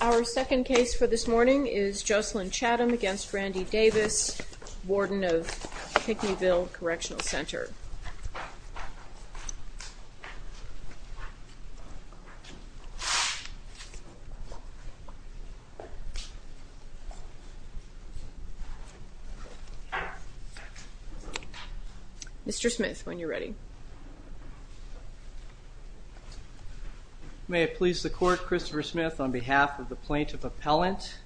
Our second case for this morning is Jocelyn Chatham v. Randy Davis, warden of Pickneyville Correctional Center. Mr. Smith, when you're ready. May it please the court, Christopher Smith on behalf of the plaintiff appellant.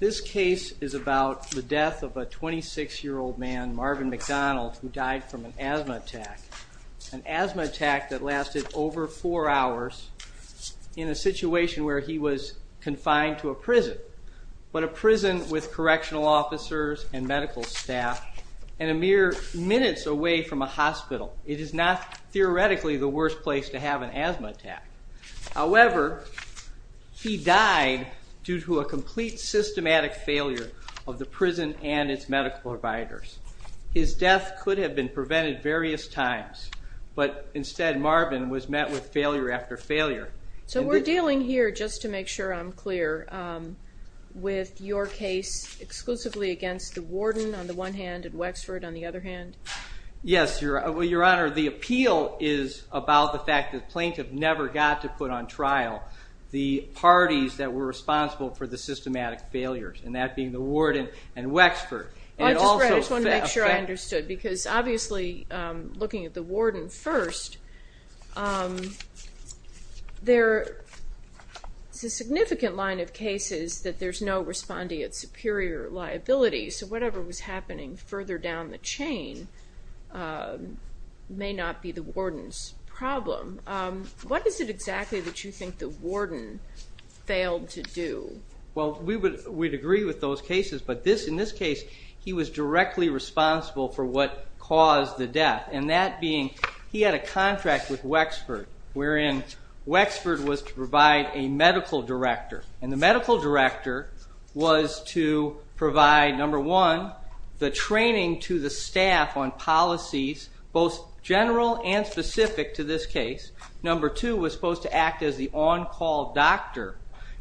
This case is about the death of a 26-year-old man, Marvin McDonald, who died from an asthma attack, an asthma attack that lasted over four hours in a situation where he was confined to a prison, but a prison with correctional officers and medical staff, and a mere minutes away from a hospital. It is not theoretically the worst place to have an asthma attack. However, he died due to a complete systematic failure of the prison and its medical providers. His death could have been prevented various times, but instead Marvin was met with failure after failure. So we're dealing here, just to make sure I'm clear, with your case exclusively against the warden on the one hand and Wexford on the other hand? Yes, Your Honor. The appeal is about the fact that the plaintiff never got to put on trial the parties that were responsible for the systematic failures, and that being the warden and Wexford. I just want to make sure I understood, because obviously looking at the warden first, there's a significant line of cases that there's no respondeat superior liability, so whatever was happening further down the chain may not be the warden's problem. What is it exactly that you think the warden failed to do? Well, we'd agree with those cases, but in this case, he was directly responsible for what caused the death, and that being he had a contract with Wexford, wherein Wexford was to provide a medical director, and the medical director was to provide, number one, the training to the staff on policies, both general and specific to this case. Number two was supposed to act as the on-call doctor,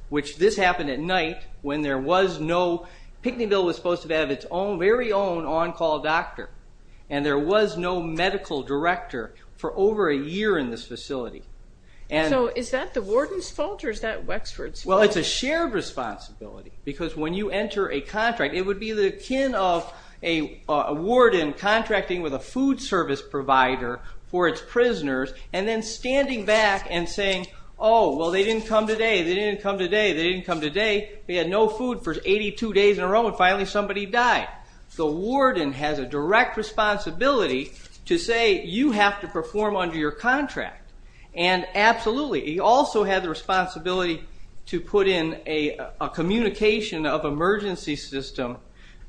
which this happened at night when there was no, Pickneyville was supposed to have its very own on-call doctor, and there was no medical director for over a year in this facility. So is that the warden's fault, or is that Wexford's fault? Well, it's a shared responsibility, because when you enter a contract, it would be the kin of a warden contracting with a food service provider for its prisoners, and then standing back and saying, oh, well, they didn't come today, they didn't come today, they had no food for 82 days in a row, and finally somebody died. The warden has a direct responsibility to say, you have to perform under your contract, and absolutely. He also had the responsibility to put in a communication of emergency system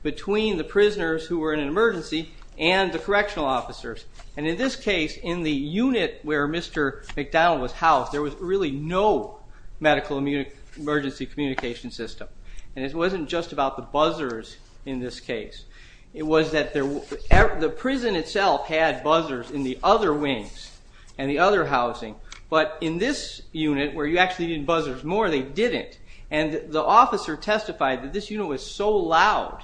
between the prisoners who were in an emergency and the correctional officers, and in this case, in the unit where Mr. McDonald was housed, there was really no medical emergency communication system, and it wasn't just about the buzzers in this case. It was that the prison itself had buzzers in the other wings and the other housing, but in this unit, where you actually needed buzzers more, they didn't, and the officer testified that this unit was so loud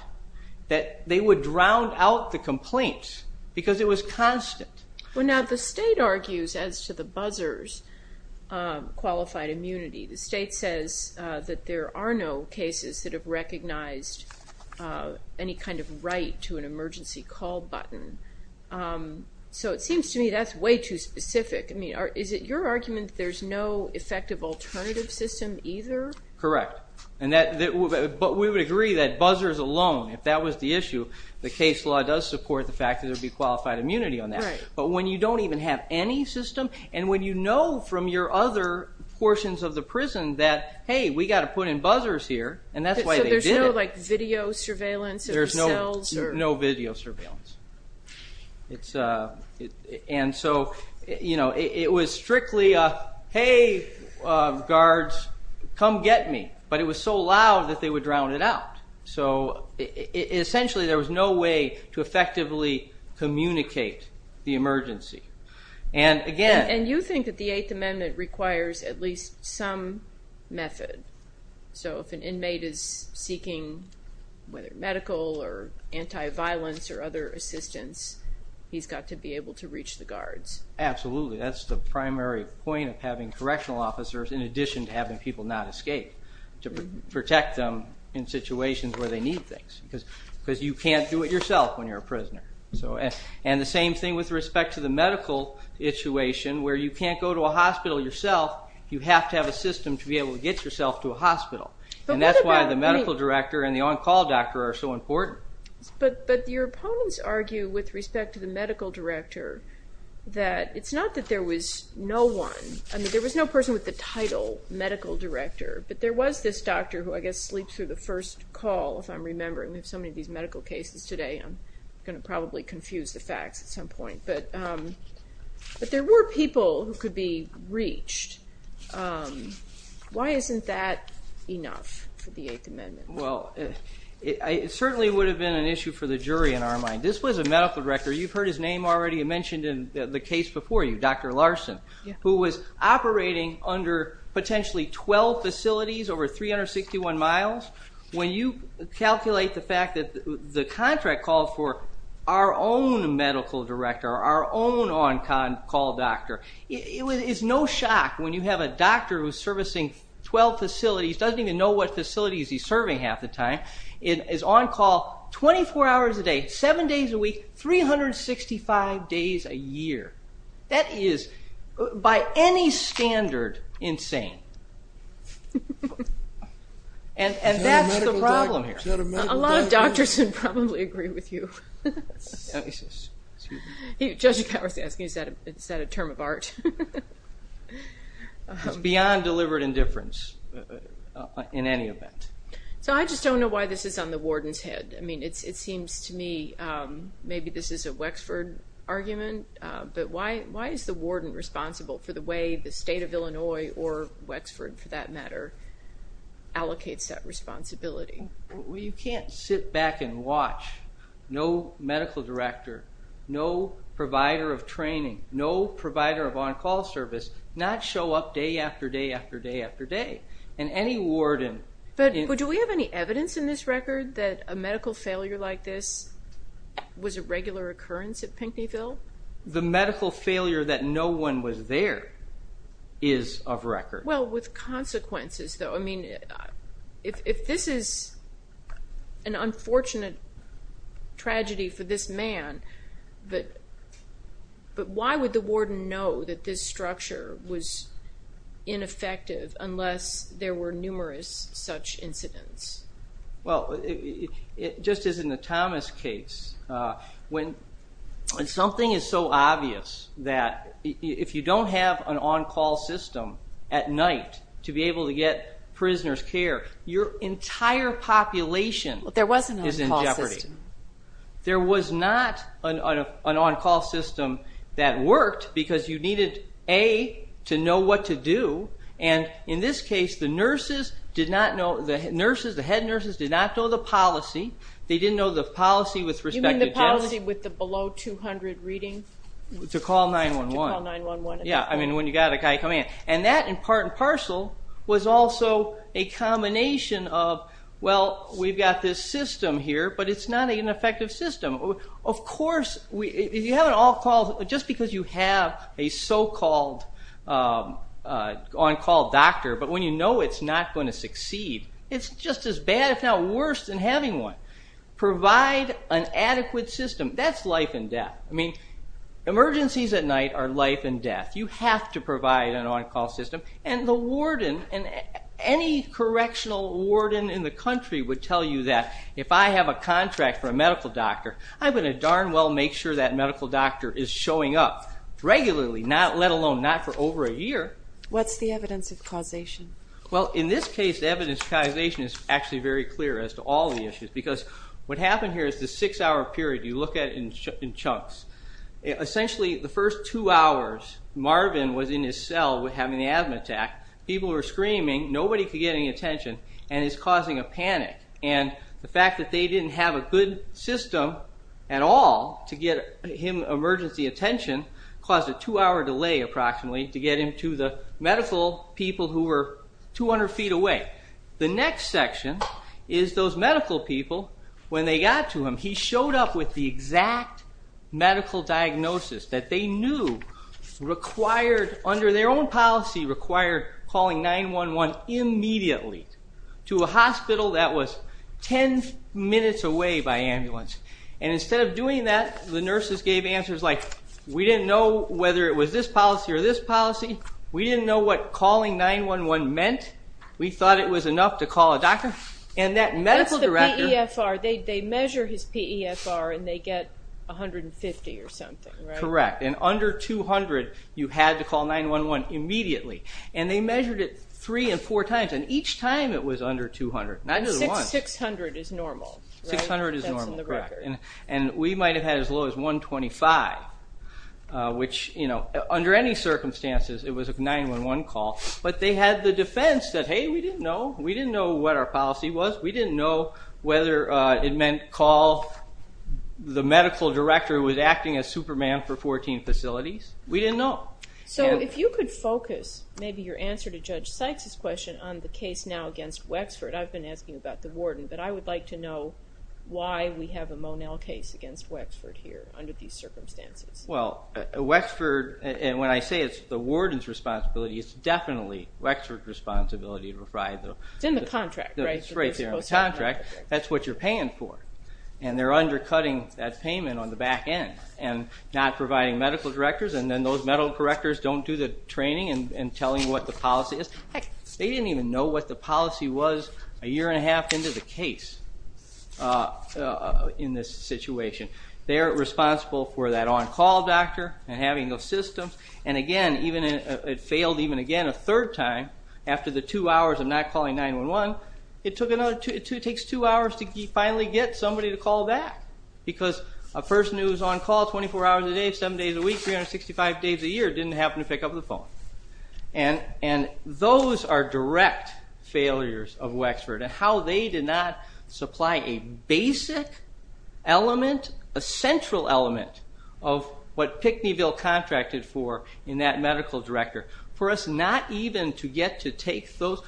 that they would drown out the complaints, because it was constant. Well, now, the state argues, as to the buzzers, qualified immunity. The state says that there are no cases that have recognized any kind of right to an emergency call button, so it seems to me that's way too specific. I mean, is it your argument that there's no effective alternative system either? Correct, but we would agree that buzzers alone, if that was the issue, the case law does support the fact that there would be qualified immunity on that. Right. But when you don't even have any system, and when you know from your other portions of the prison that, hey, we've got to put in buzzers here, and that's why they did it. So there's no, like, video surveillance of your cells? There's no video surveillance. And so, you know, it was strictly, hey, guards, come get me, but it was so loud that they would drown it out. So essentially there was no way to effectively communicate the emergency. And, again... And you think that the Eighth Amendment requires at least some method. So if an inmate is seeking, whether medical or anti-violence or other assistance, he's got to be able to reach the guards. That's the primary point of having correctional officers, in addition to having people not escape, to protect them in situations where they need things, because you can't do it yourself when you're a prisoner. And the same thing with respect to the medical situation, where you can't go to a hospital yourself, you have to have a system to be able to get yourself to a hospital. And that's why the medical director and the on-call doctor are so important. But your opponents argue with respect to the medical director that it's not that there was no one. I mean, there was no person with the title medical director, but there was this doctor who, I guess, sleeps through the first call, if I'm remembering. We have so many of these medical cases today, I'm going to probably confuse the facts at some point. But there were people who could be reached. Why isn't that enough for the Eighth Amendment? Well, it certainly would have been an issue for the jury in our mind. This was a medical director. You've heard his name already mentioned in the case before you, Dr. Larson, who was operating under potentially 12 facilities over 361 miles. When you calculate the fact that the contract called for our own medical director, our own on-call doctor, it's no shock when you have a doctor who's servicing 12 facilities, doesn't even know what facilities he's serving half the time, is on-call 24 hours a day, 7 days a week, 365 days a year. That is, by any standard, insane. And that's the problem here. Is that a medical director? A lot of doctors would probably agree with you. He says, excuse me? Judge Calvert's asking, is that a term of art? It's beyond deliberate indifference in any event. So I just don't know why this is on the warden's head. I mean, it seems to me maybe this is a Wexford argument, but why is the warden responsible for the way the state of Illinois, or Wexford for that matter, allocates that responsibility? Well, you can't sit back and watch no medical director, no provider of training, no provider of on-call service, not show up day after day after day after day. And any warden... But do we have any evidence in this record that a medical failure like this was a regular occurrence at Pinckneyville? The medical failure that no one was there is of record. Well, with consequences, though. I mean, if this is an unfortunate tragedy for this man, but why would the warden know that this structure was ineffective unless there were numerous such incidents? Well, just as in the Thomas case, when something is so obvious that if you don't have an on-call system at night to be able to get prisoners care, your entire population is in jeopardy. There was an on-call system. There was not an on-call system that worked because you needed, A, to know what to do. And in this case, the nurses did not know. The nurses, the head nurses, did not know the policy. They didn't know the policy with respect to this. You mean the policy with the below 200 reading? To call 911. To call 911. Yeah, I mean, when you've got a guy coming in. And that, in part and parcel, was also a combination of, well, we've got this system here, but it's not an effective system. Of course, if you have an on-call system, just because you have a so-called on-call doctor, but when you know it's not going to succeed, it's just as bad, if not worse, than having one. Provide an adequate system. That's life and death. I mean, emergencies at night are life and death. You have to provide an on-call system. And the warden, any correctional warden in the country, would tell you that if I have a contract for a medical doctor, I'm going to darn well make sure that medical doctor is showing up regularly, let alone not for over a year. What's the evidence of causation? Well, in this case, the evidence of causation is actually very clear as to all the issues, because what happened here is this six-hour period you look at in chunks. Essentially, the first two hours, Marvin was in his cell having an asthma attack. People were screaming. Nobody could get any attention. And it's causing a panic. And the fact that they didn't have a good system at all to get him emergency attention caused a two-hour delay, approximately, to get him to the medical people who were 200 feet away. The next section is those medical people, when they got to him, he showed up with the exact medical diagnosis that they knew required, under their own policy, required calling 911 immediately to a hospital that was 10 minutes away by ambulance. And instead of doing that, the nurses gave answers like, we didn't know whether it was this policy or this policy. We didn't know what calling 911 meant. We thought it was enough to call a doctor. And that medical director... That's the PEFR. They measure his PEFR, and they get 150 or something, right? Correct. And under 200, you had to call 911 immediately. And they measured it three and four times. And each time it was under 200, not just once. 600 is normal, right? 600 is normal, correct. That's in the record. And we might have had as low as 125, which, under any circumstances, it was a 911 call. But they had the defense that, hey, we didn't know. We didn't know what our policy was. We didn't know whether it meant call the medical director who was acting as Superman for 14 facilities. We didn't know. So if you could focus maybe your answer to Judge Sykes's question on the case now against Wexford. I've been asking about the warden, but I would like to know why we have a Monell case against Wexford here under these circumstances. Well, Wexford, and when I say it's the warden's responsibility, it's definitely Wexford's responsibility to provide the... It's in the contract, right? It's right there in the contract. That's what you're paying for. And they're undercutting that payment on the back end and not providing medical directors. And then those medical directors don't do the training and telling what the policy is. Heck, they didn't even know what the policy was a year and a half into the case in this situation. They're responsible for that on-call doctor and having those systems. And, again, it failed even again a third time after the two hours of not calling 911. It takes two hours to finally get somebody to call back because a person who's on call 24 hours a day, seven days a week, 365 days a year didn't happen to pick up the phone. And those are direct failures of Wexford and how they did not supply a basic element, a central element of what Pickneyville contracted for in that medical director. For us not even to get to take those...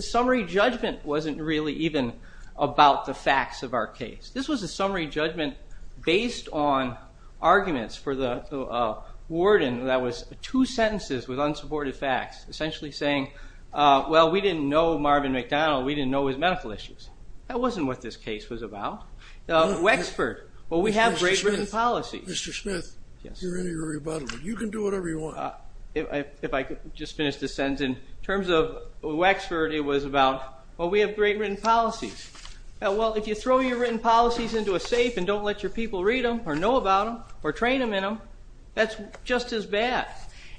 Summary judgment wasn't really even about the facts of our case. This was a summary judgment based on arguments for the warden that was two sentences with unsupported facts, essentially saying, well, we didn't know Marvin McDonald, we didn't know his medical issues. That wasn't what this case was about. Wexford, well, we have great written policies. Mr. Smith, you're in your rebuttal. You can do whatever you want. If I could just finish this sentence. In terms of Wexford, it was about, well, we have great written policies. Well, if you throw your written policies into a safe and don't let your people read them or know about them or train them in them, that's just as bad.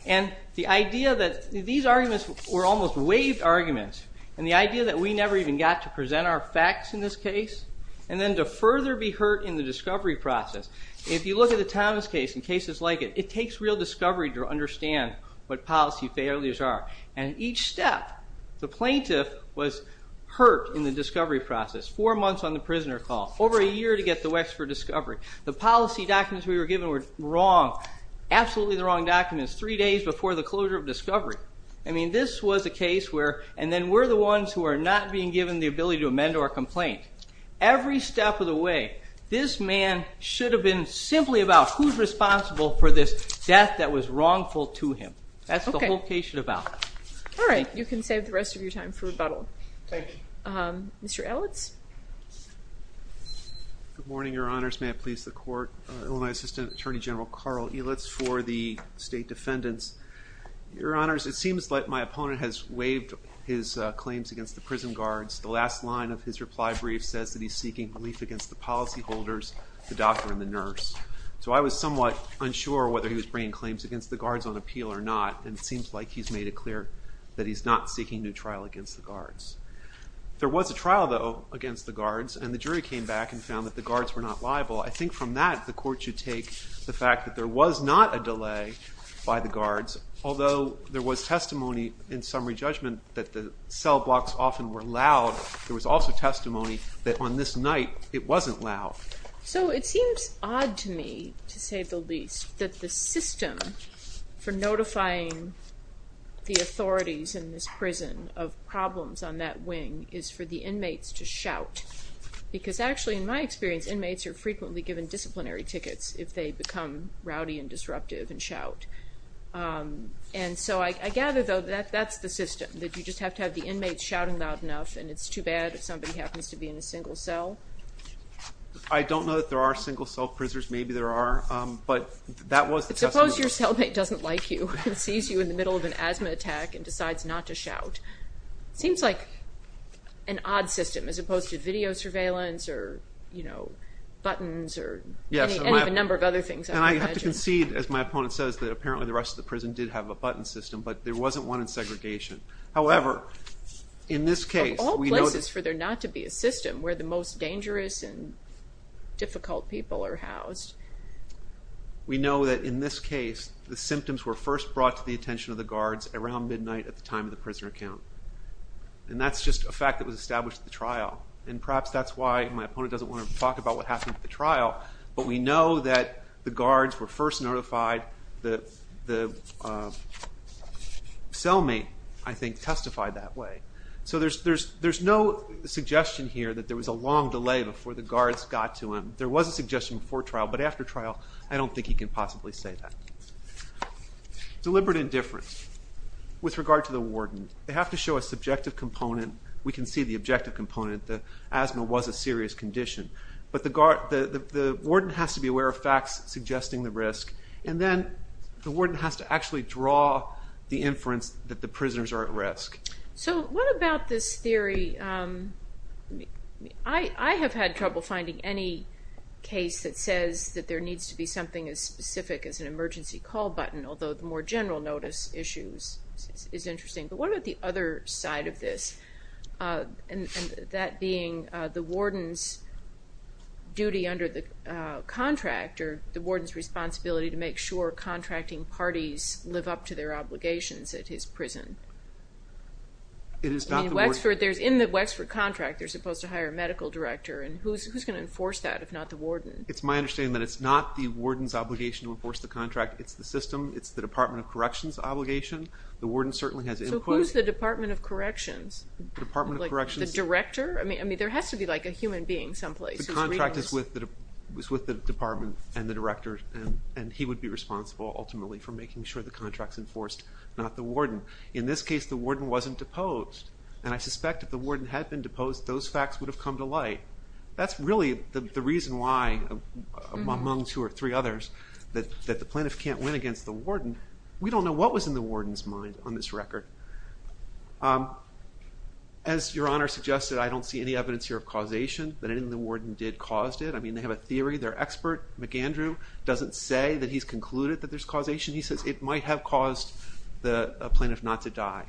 And the idea that these arguments were almost waived arguments and the idea that we never even got to present our facts in this case and then to further be hurt in the discovery process. If you look at the Thomas case and cases like it, it takes real discovery to understand what policy failures are. And each step, the plaintiff was hurt in the discovery process. Four months on the prisoner call. Over a year to get the Wexford discovery. The policy documents we were given were wrong, absolutely the wrong documents, three days before the closure of discovery. I mean, this was a case where, and then we're the ones who are not being given the ability to amend our complaint. Every step of the way, this man should have been simply about who's responsible for this death that was wrongful to him. That's the whole case should have been about. All right, you can save the rest of your time for rebuttal. Thank you. Mr. Elitz. Good morning, Your Honors. May it please the Court. Illinois Assistant Attorney General Carl Elitz for the State Defendants. Your Honors, it seems like my opponent has waived his claims against the prison guards. The last line of his reply brief says that he's seeking relief against the policy holders, the doctor, and the nurse. So I was somewhat unsure whether he was bringing claims against the guards on appeal or not, and it seems like he's made it clear that he's not seeking new trial against the guards. There was a trial, though, against the guards, and the jury came back and found that the guards were not liable. I think from that, the Court should take the fact that there was not a delay by the guards, although there was testimony in summary judgment that the cell blocks often were loud. There was also testimony that on this night it wasn't loud. So it seems odd to me, to say the least, that the system for notifying the authorities in this prison of problems on that wing is for the inmates to shout, because actually, in my experience, inmates are frequently given disciplinary tickets if they become rowdy and disruptive and shout. And so I gather, though, that that's the system, that you just have to have the inmates shouting loud enough, and it's too bad if somebody happens to be in a single cell. I don't know that there are single-cell prisoners. Maybe there are, but that was the testimony. But suppose your cellmate doesn't like you and sees you in the middle of an asthma attack and decides not to shout. It seems like an odd system, as opposed to video surveillance or, you know, buttons or any of a number of other things, I would imagine. And I have to concede, as my opponent says, that apparently the rest of the prison did have a button system, but there wasn't one in segregation. However, in this case, we know that... Of all places for there not to be a system where the most dangerous and difficult people are housed. We know that in this case, the symptoms were first brought to the attention of the guards around midnight at the time of the prisoner count. And that's just a fact that was established at the trial. And perhaps that's why my opponent doesn't want to talk about what happened at the trial, but we know that the guards were first notified. The cellmate, I think, testified that way. So there's no suggestion here that there was a long delay before the guards got to him. There was a suggestion before trial, but after trial, I don't think he can possibly say that. Deliberate indifference with regard to the warden. They have to show a subjective component. We can see the objective component, that asthma was a serious condition. But the warden has to be aware of facts suggesting the risk. And then the warden has to actually draw the inference that the prisoners are at risk. So what about this theory... I have had trouble finding any case that says that there needs to be something as specific as an emergency call button, although the more general notice issues is interesting. But what about the other side of this? And that being the warden's duty under the contract, or the warden's responsibility to make sure contracting parties live up to their obligations at his prison? In the Wexford contract, they're supposed to hire a medical director, and who's going to enforce that if not the warden? It's my understanding that it's not the warden's obligation to enforce the contract. So who's the Department of Corrections? Department of Corrections? The director? I mean, there has to be, like, a human being someplace. The contract is with the department and the director, and he would be responsible, ultimately, for making sure the contract's enforced, not the warden. In this case, the warden wasn't deposed. And I suspect if the warden had been deposed, those facts would have come to light. That's really the reason why, among two or three others, that the plaintiff can't win against the warden. We don't know what was in the warden's mind on this record. As Your Honor suggested, I don't see any evidence here of causation, that anything the warden did caused it. I mean, they have a theory. Their expert, McAndrew, doesn't say that he's concluded that there's causation. He says it might have caused the plaintiff not to die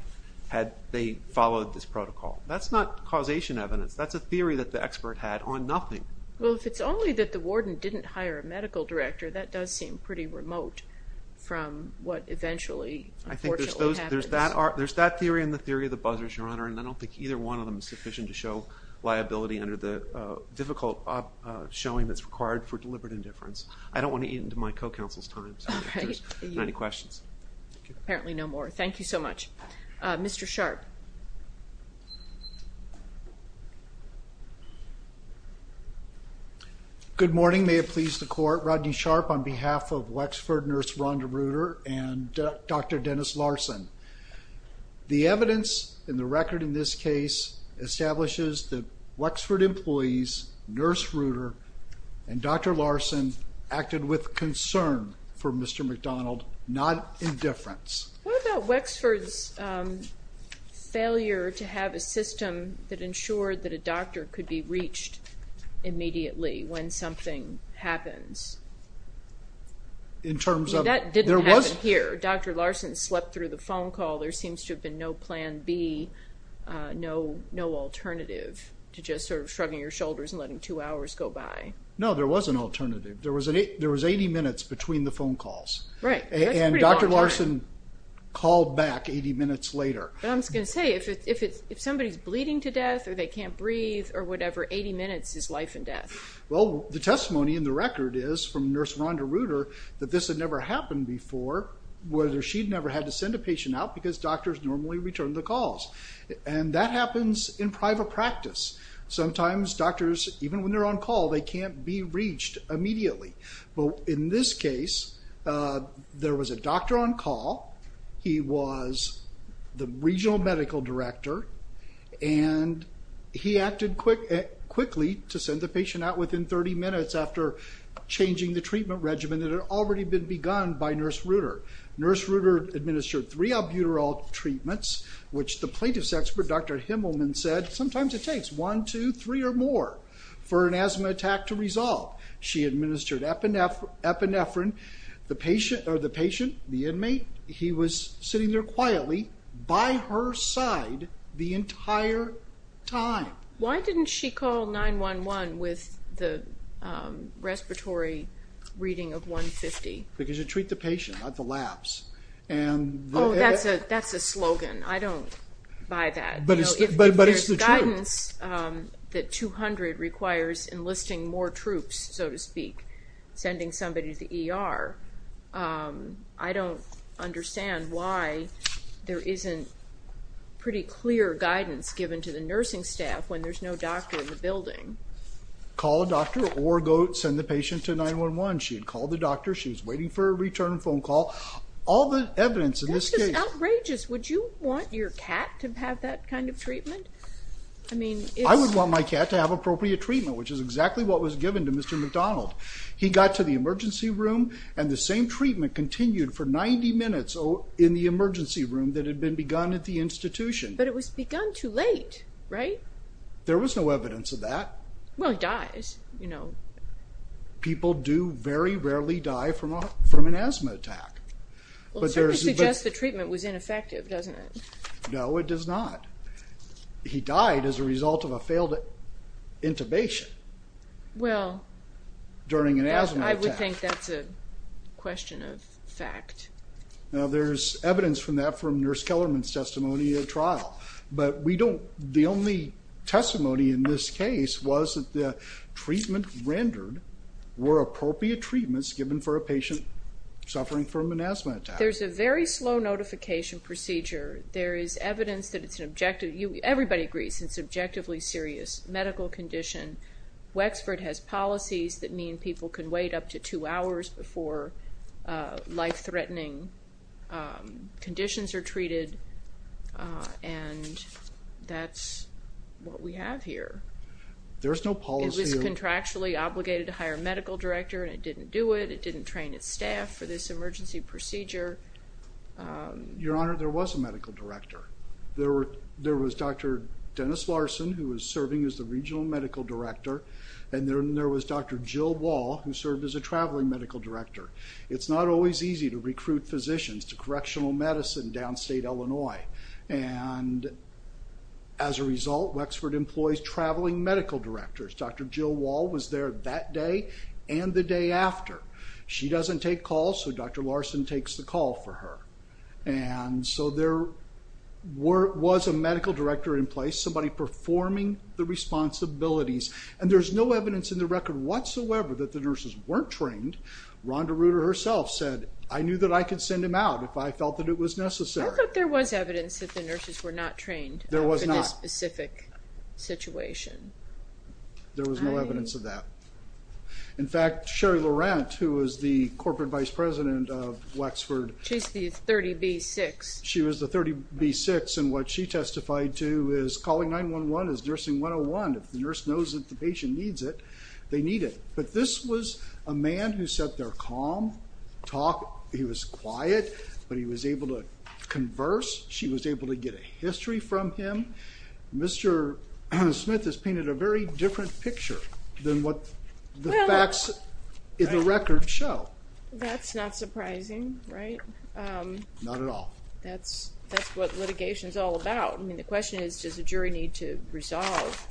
had they followed this protocol. That's not causation evidence. That's a theory that the expert had on nothing. Well, if it's only that the warden didn't hire a medical director, that does seem pretty remote from what eventually, unfortunately, happens. I think there's that theory and the theory of the buzzers, Your Honor, and I don't think either one of them is sufficient to show liability under the difficult showing that's required for deliberate indifference. I don't want to eat into my co-counsel's time, so if there's any questions. Apparently no more. Thank you so much. Mr. Sharp. Good morning. May it please the Court. Rodney Sharp on behalf of Wexford nurse Rhonda Reuter and Dr. Dennis Larson. The evidence in the record in this case establishes that Wexford employees, nurse Reuter, and Dr. Larson, acted with concern for Mr. McDonald, not indifference. What about Wexford's failure to have a system that ensured that a doctor could be reached immediately when something happens? That didn't happen here. Dr. Larson slept through the phone call. There seems to have been no plan B, no alternative to just sort of shrugging your shoulders and letting two hours go by. No, there was an alternative. There was 80 minutes between the phone calls, and Dr. Larson called back 80 minutes later. But I'm just going to say, if somebody's bleeding to death or they can't breathe or whatever, 80 minutes is life and death. Well, the testimony in the record is from nurse Rhonda Reuter that this had never happened before, whether she'd never had to send a patient out because doctors normally return the calls. And that happens in private practice. Sometimes doctors, even when they're on call, they can't be reached immediately. In this case, there was a doctor on call. He was the regional medical director, and he acted quickly to send the patient out within 30 minutes after changing the treatment regimen that had already been begun by nurse Reuter. Nurse Reuter administered three albuterol treatments, which the plaintiff's expert, Dr. Himmelman, said, sometimes it takes one, two, three, or more for an asthma attack to resolve. She administered epinephrine. The patient, the inmate, he was sitting there quietly by her side the entire time. Why didn't she call 911 with the respiratory reading of 150? Because you treat the patient, not the labs. Oh, that's a slogan. I don't buy that. But it's the truth. If there's guidance that 200 requires enlisting more troops, so to speak, sending somebody to the ER, I don't understand why there isn't pretty clear guidance given to the nursing staff when there's no doctor in the building. Call a doctor or send the patient to 911. She had called the doctor. She was waiting for a return phone call. All the evidence in this case. This is outrageous. Would you want your cat to have that kind of treatment? I would want my cat to have appropriate treatment, which is exactly what was given to Mr. McDonald. He got to the emergency room, and the same treatment continued for 90 minutes in the emergency room that had been begun at the institution. But it was begun too late, right? There was no evidence of that. Well, he dies. People do very rarely die from an asthma attack. Well, it certainly suggests the treatment was ineffective, doesn't it? No, it does not. He died as a result of a failed intubation during an asthma attack. Well, I would think that's a question of fact. Now, there's evidence from that from Nurse Kellerman's testimony at trial. But the only testimony in this case was that the treatment rendered were appropriate treatments given for a patient suffering from an asthma attack. There's a very slow notification procedure. There is evidence that it's an objective. Everybody agrees it's an objectively serious medical condition. Wexford has policies that mean people can wait up to two hours before life-threatening conditions are treated, and that's what we have here. There's no policy. It was contractually obligated to hire a medical director, and it didn't do it. It didn't train its staff for this emergency procedure. Your Honor, there was a medical director. There was Dr. Dennis Larson, who was serving as the regional medical director, and then there was Dr. Jill Wall, who served as a traveling medical director. It's not always easy to recruit physicians to correctional medicine downstate Illinois, and as a result, Wexford employs traveling medical directors. Dr. Jill Wall was there that day and the day after. She doesn't take calls, so Dr. Larson takes the call for her, and so there was a medical director in place, somebody performing the responsibilities, and there's no evidence in the record whatsoever that the nurses weren't trained. Rhonda Reuter herself said, I knew that I could send him out if I felt that it was necessary. I thought there was evidence that the nurses were not trained in this specific situation. There was no evidence of that. In fact, Sherry Laurent, who was the corporate vice president of Wexford. She's the 30B-6. She was the 30B-6, and what she testified to is calling 911 is nursing 101. If the nurse knows that the patient needs it, they need it. But this was a man who sat there calm, talked. He was quiet, but he was able to converse. She was able to get a history from him. Mr. Smith has painted a very different picture than what the facts in the record show. That's not surprising, right? Not at all. That's what litigation is all about. I mean, the question is, does a jury need to resolve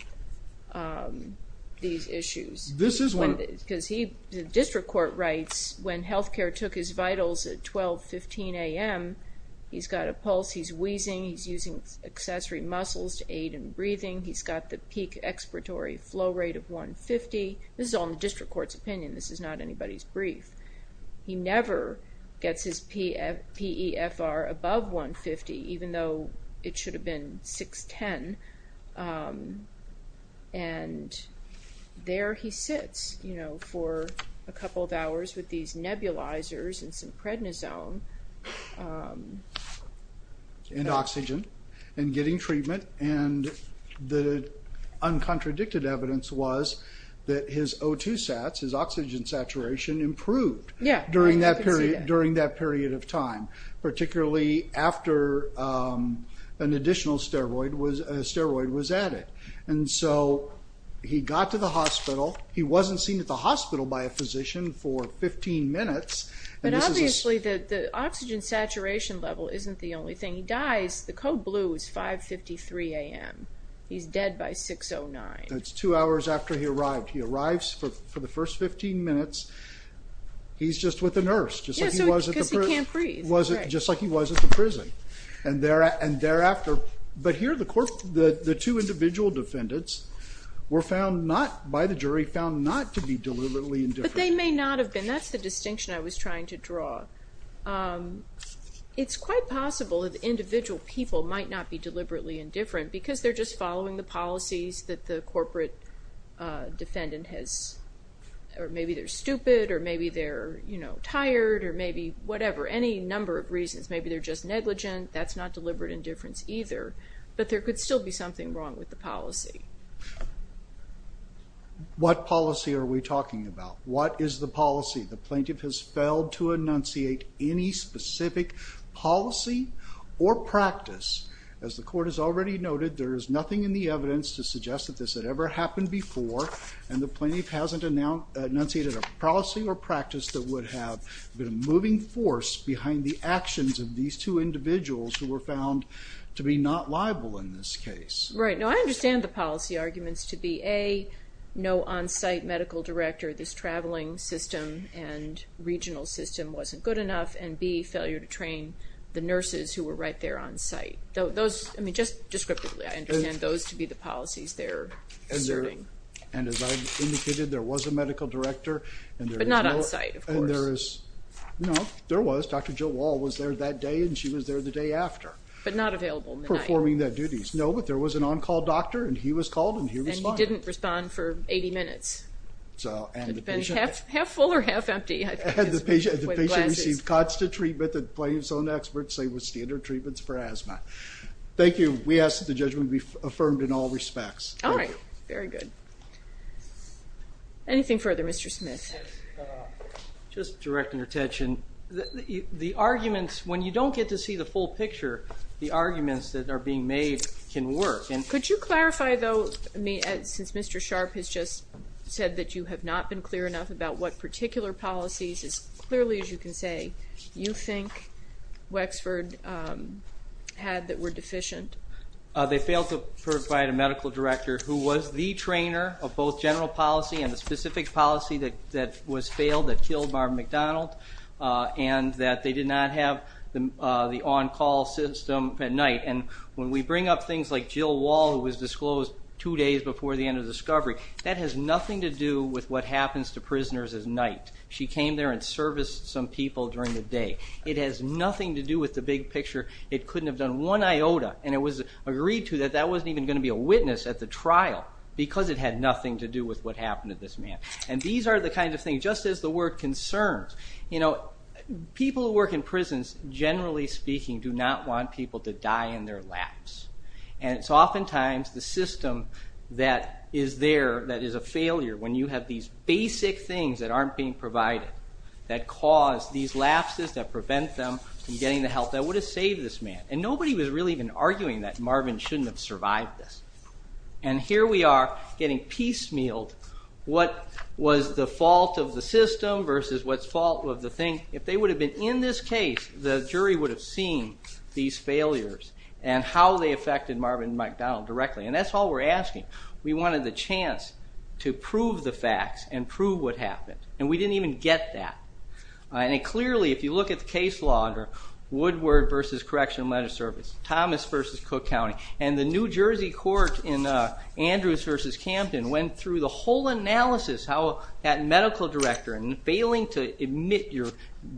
these issues? Because the district court writes when health care took his vitals at 12, 15 a.m., he's got a pulse, he's wheezing, he's using accessory muscles to aid in breathing, he's got the peak expiratory flow rate of 150. This is all in the district court's opinion. This is not anybody's brief. He never gets his PEFR above 150, even though it should have been 610. And there he sits for a couple of hours with these nebulizers and some prednisone and oxygen and getting treatment. And the uncontradicted evidence was that his O2 sats, his oxygen saturation, improved during that period of time, particularly after an additional steroid was added. And so he got to the hospital. He wasn't seen at the hospital by a physician for 15 minutes. But obviously the oxygen saturation level isn't the only thing. He dies, the code blue is 5.53 a.m. He's dead by 6.09. That's two hours after he arrived. He arrives for the first 15 minutes. He's just with the nurse, just like he was at the prison. Because he can't breathe. Just like he was at the prison. And thereafter, but here the two individual defendants were found not, by the jury, found not to be deliberately indifferent. But they may not have been. That's the distinction I was trying to draw. It's quite possible that the individual people might not be deliberately indifferent because they're just following the policies that the corporate defendant has, or maybe they're stupid or maybe they're, you know, tired or maybe whatever. Any number of reasons. Maybe they're just negligent. That's not deliberate indifference either. But there could still be something wrong with the policy. What policy are we talking about? What is the policy? The plaintiff has failed to enunciate any specific policy or practice. As the Court has already noted, there is nothing in the evidence to suggest that this had ever happened before and the plaintiff hasn't enunciated a policy or practice that would have been a moving force behind the actions of these two individuals who were found to be not liable in this case. Right. Now, I understand the policy arguments to be, A, no on-site medical director. This traveling system and regional system wasn't good enough. And, B, failure to train the nurses who were right there on-site. I mean, just descriptively, I understand those to be the policies they're asserting. And as I indicated, there was a medical director. But not on-site, of course. No, there was. Dr. Jill Wall was there that day and she was there the day after. But not available in the night. Performing their duties. No, but there was an on-call doctor and he was called and he responded. And he didn't respond for 80 minutes. Half full or half empty. And the patient received constant treatment that the plaintiff's own experts say was standard treatments for asthma. Thank you. We ask that the judgment be affirmed in all respects. All right. Very good. Anything further, Mr. Smith? Just directing attention. The arguments, when you don't get to see the full picture, the arguments that are being made can work. Could you clarify, though, since Mr. Sharp has just said that you have not been clear enough about what particular policies, as clearly as you can say, you think Wexford had that were deficient? They failed to provide a medical director who was the trainer of both general policy and the specific policy that was failed that killed Marvin McDonald, and that they did not have the on-call system at night. And when we bring up things like Jill Wall, who was disclosed two days before the end of the discovery, that has nothing to do with what happens to prisoners at night. She came there and serviced some people during the day. It has nothing to do with the big picture. It couldn't have done one iota, and it was agreed to that that wasn't even going to be a witness at the trial because it had nothing to do with what happened to this man. And these are the kinds of things, just as the word concerns. People who work in prisons, generally speaking, do not want people to die in their laps. And it's oftentimes the system that is there that is a failure when you have these basic things that aren't being provided that cause these lapses that prevent them from getting the help that would have saved this man. And nobody was really even arguing that Marvin shouldn't have survived this. And here we are getting piecemealed what was the fault of the system versus what's the fault of the thing. If they would have been in this case, the jury would have seen these failures and how they affected Marvin McDonald directly. And that's all we're asking. We wanted the chance to prove the facts and prove what happened, and we didn't even get that. And clearly, if you look at the case law under Woodward v. Correctional and Legislative Services, Thomas v. Cook County, and the New Jersey court in Andrews v. Camden went through the whole analysis how that medical director, failing to admit your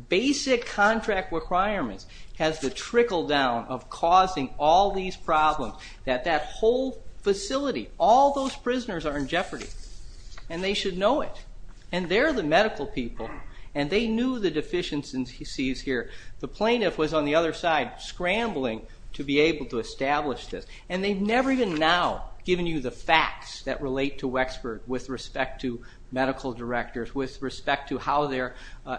basic contract requirements, has the trickle-down of causing all these problems, that that whole facility, all those prisoners are in jeopardy, and they should know it. And they're the medical people, and they knew the deficiencies here. The plaintiff was on the other side scrambling to be able to establish this, and they've never even now given you the facts that relate to Wexford with respect to medical directors, with respect to how their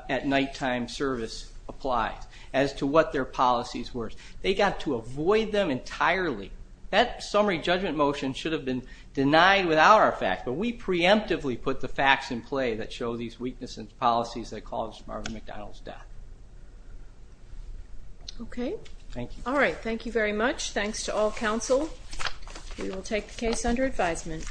at-nighttime service applies as to what their policies were. They got to avoid them entirely. That summary judgment motion should have been denied without our facts, but we preemptively put the facts in play that show these weaknesses in policies that caused Marvin McDonald's death. Okay. Thank you. All right. Thank you very much. Thanks to all counsel. We will take the case under advisement.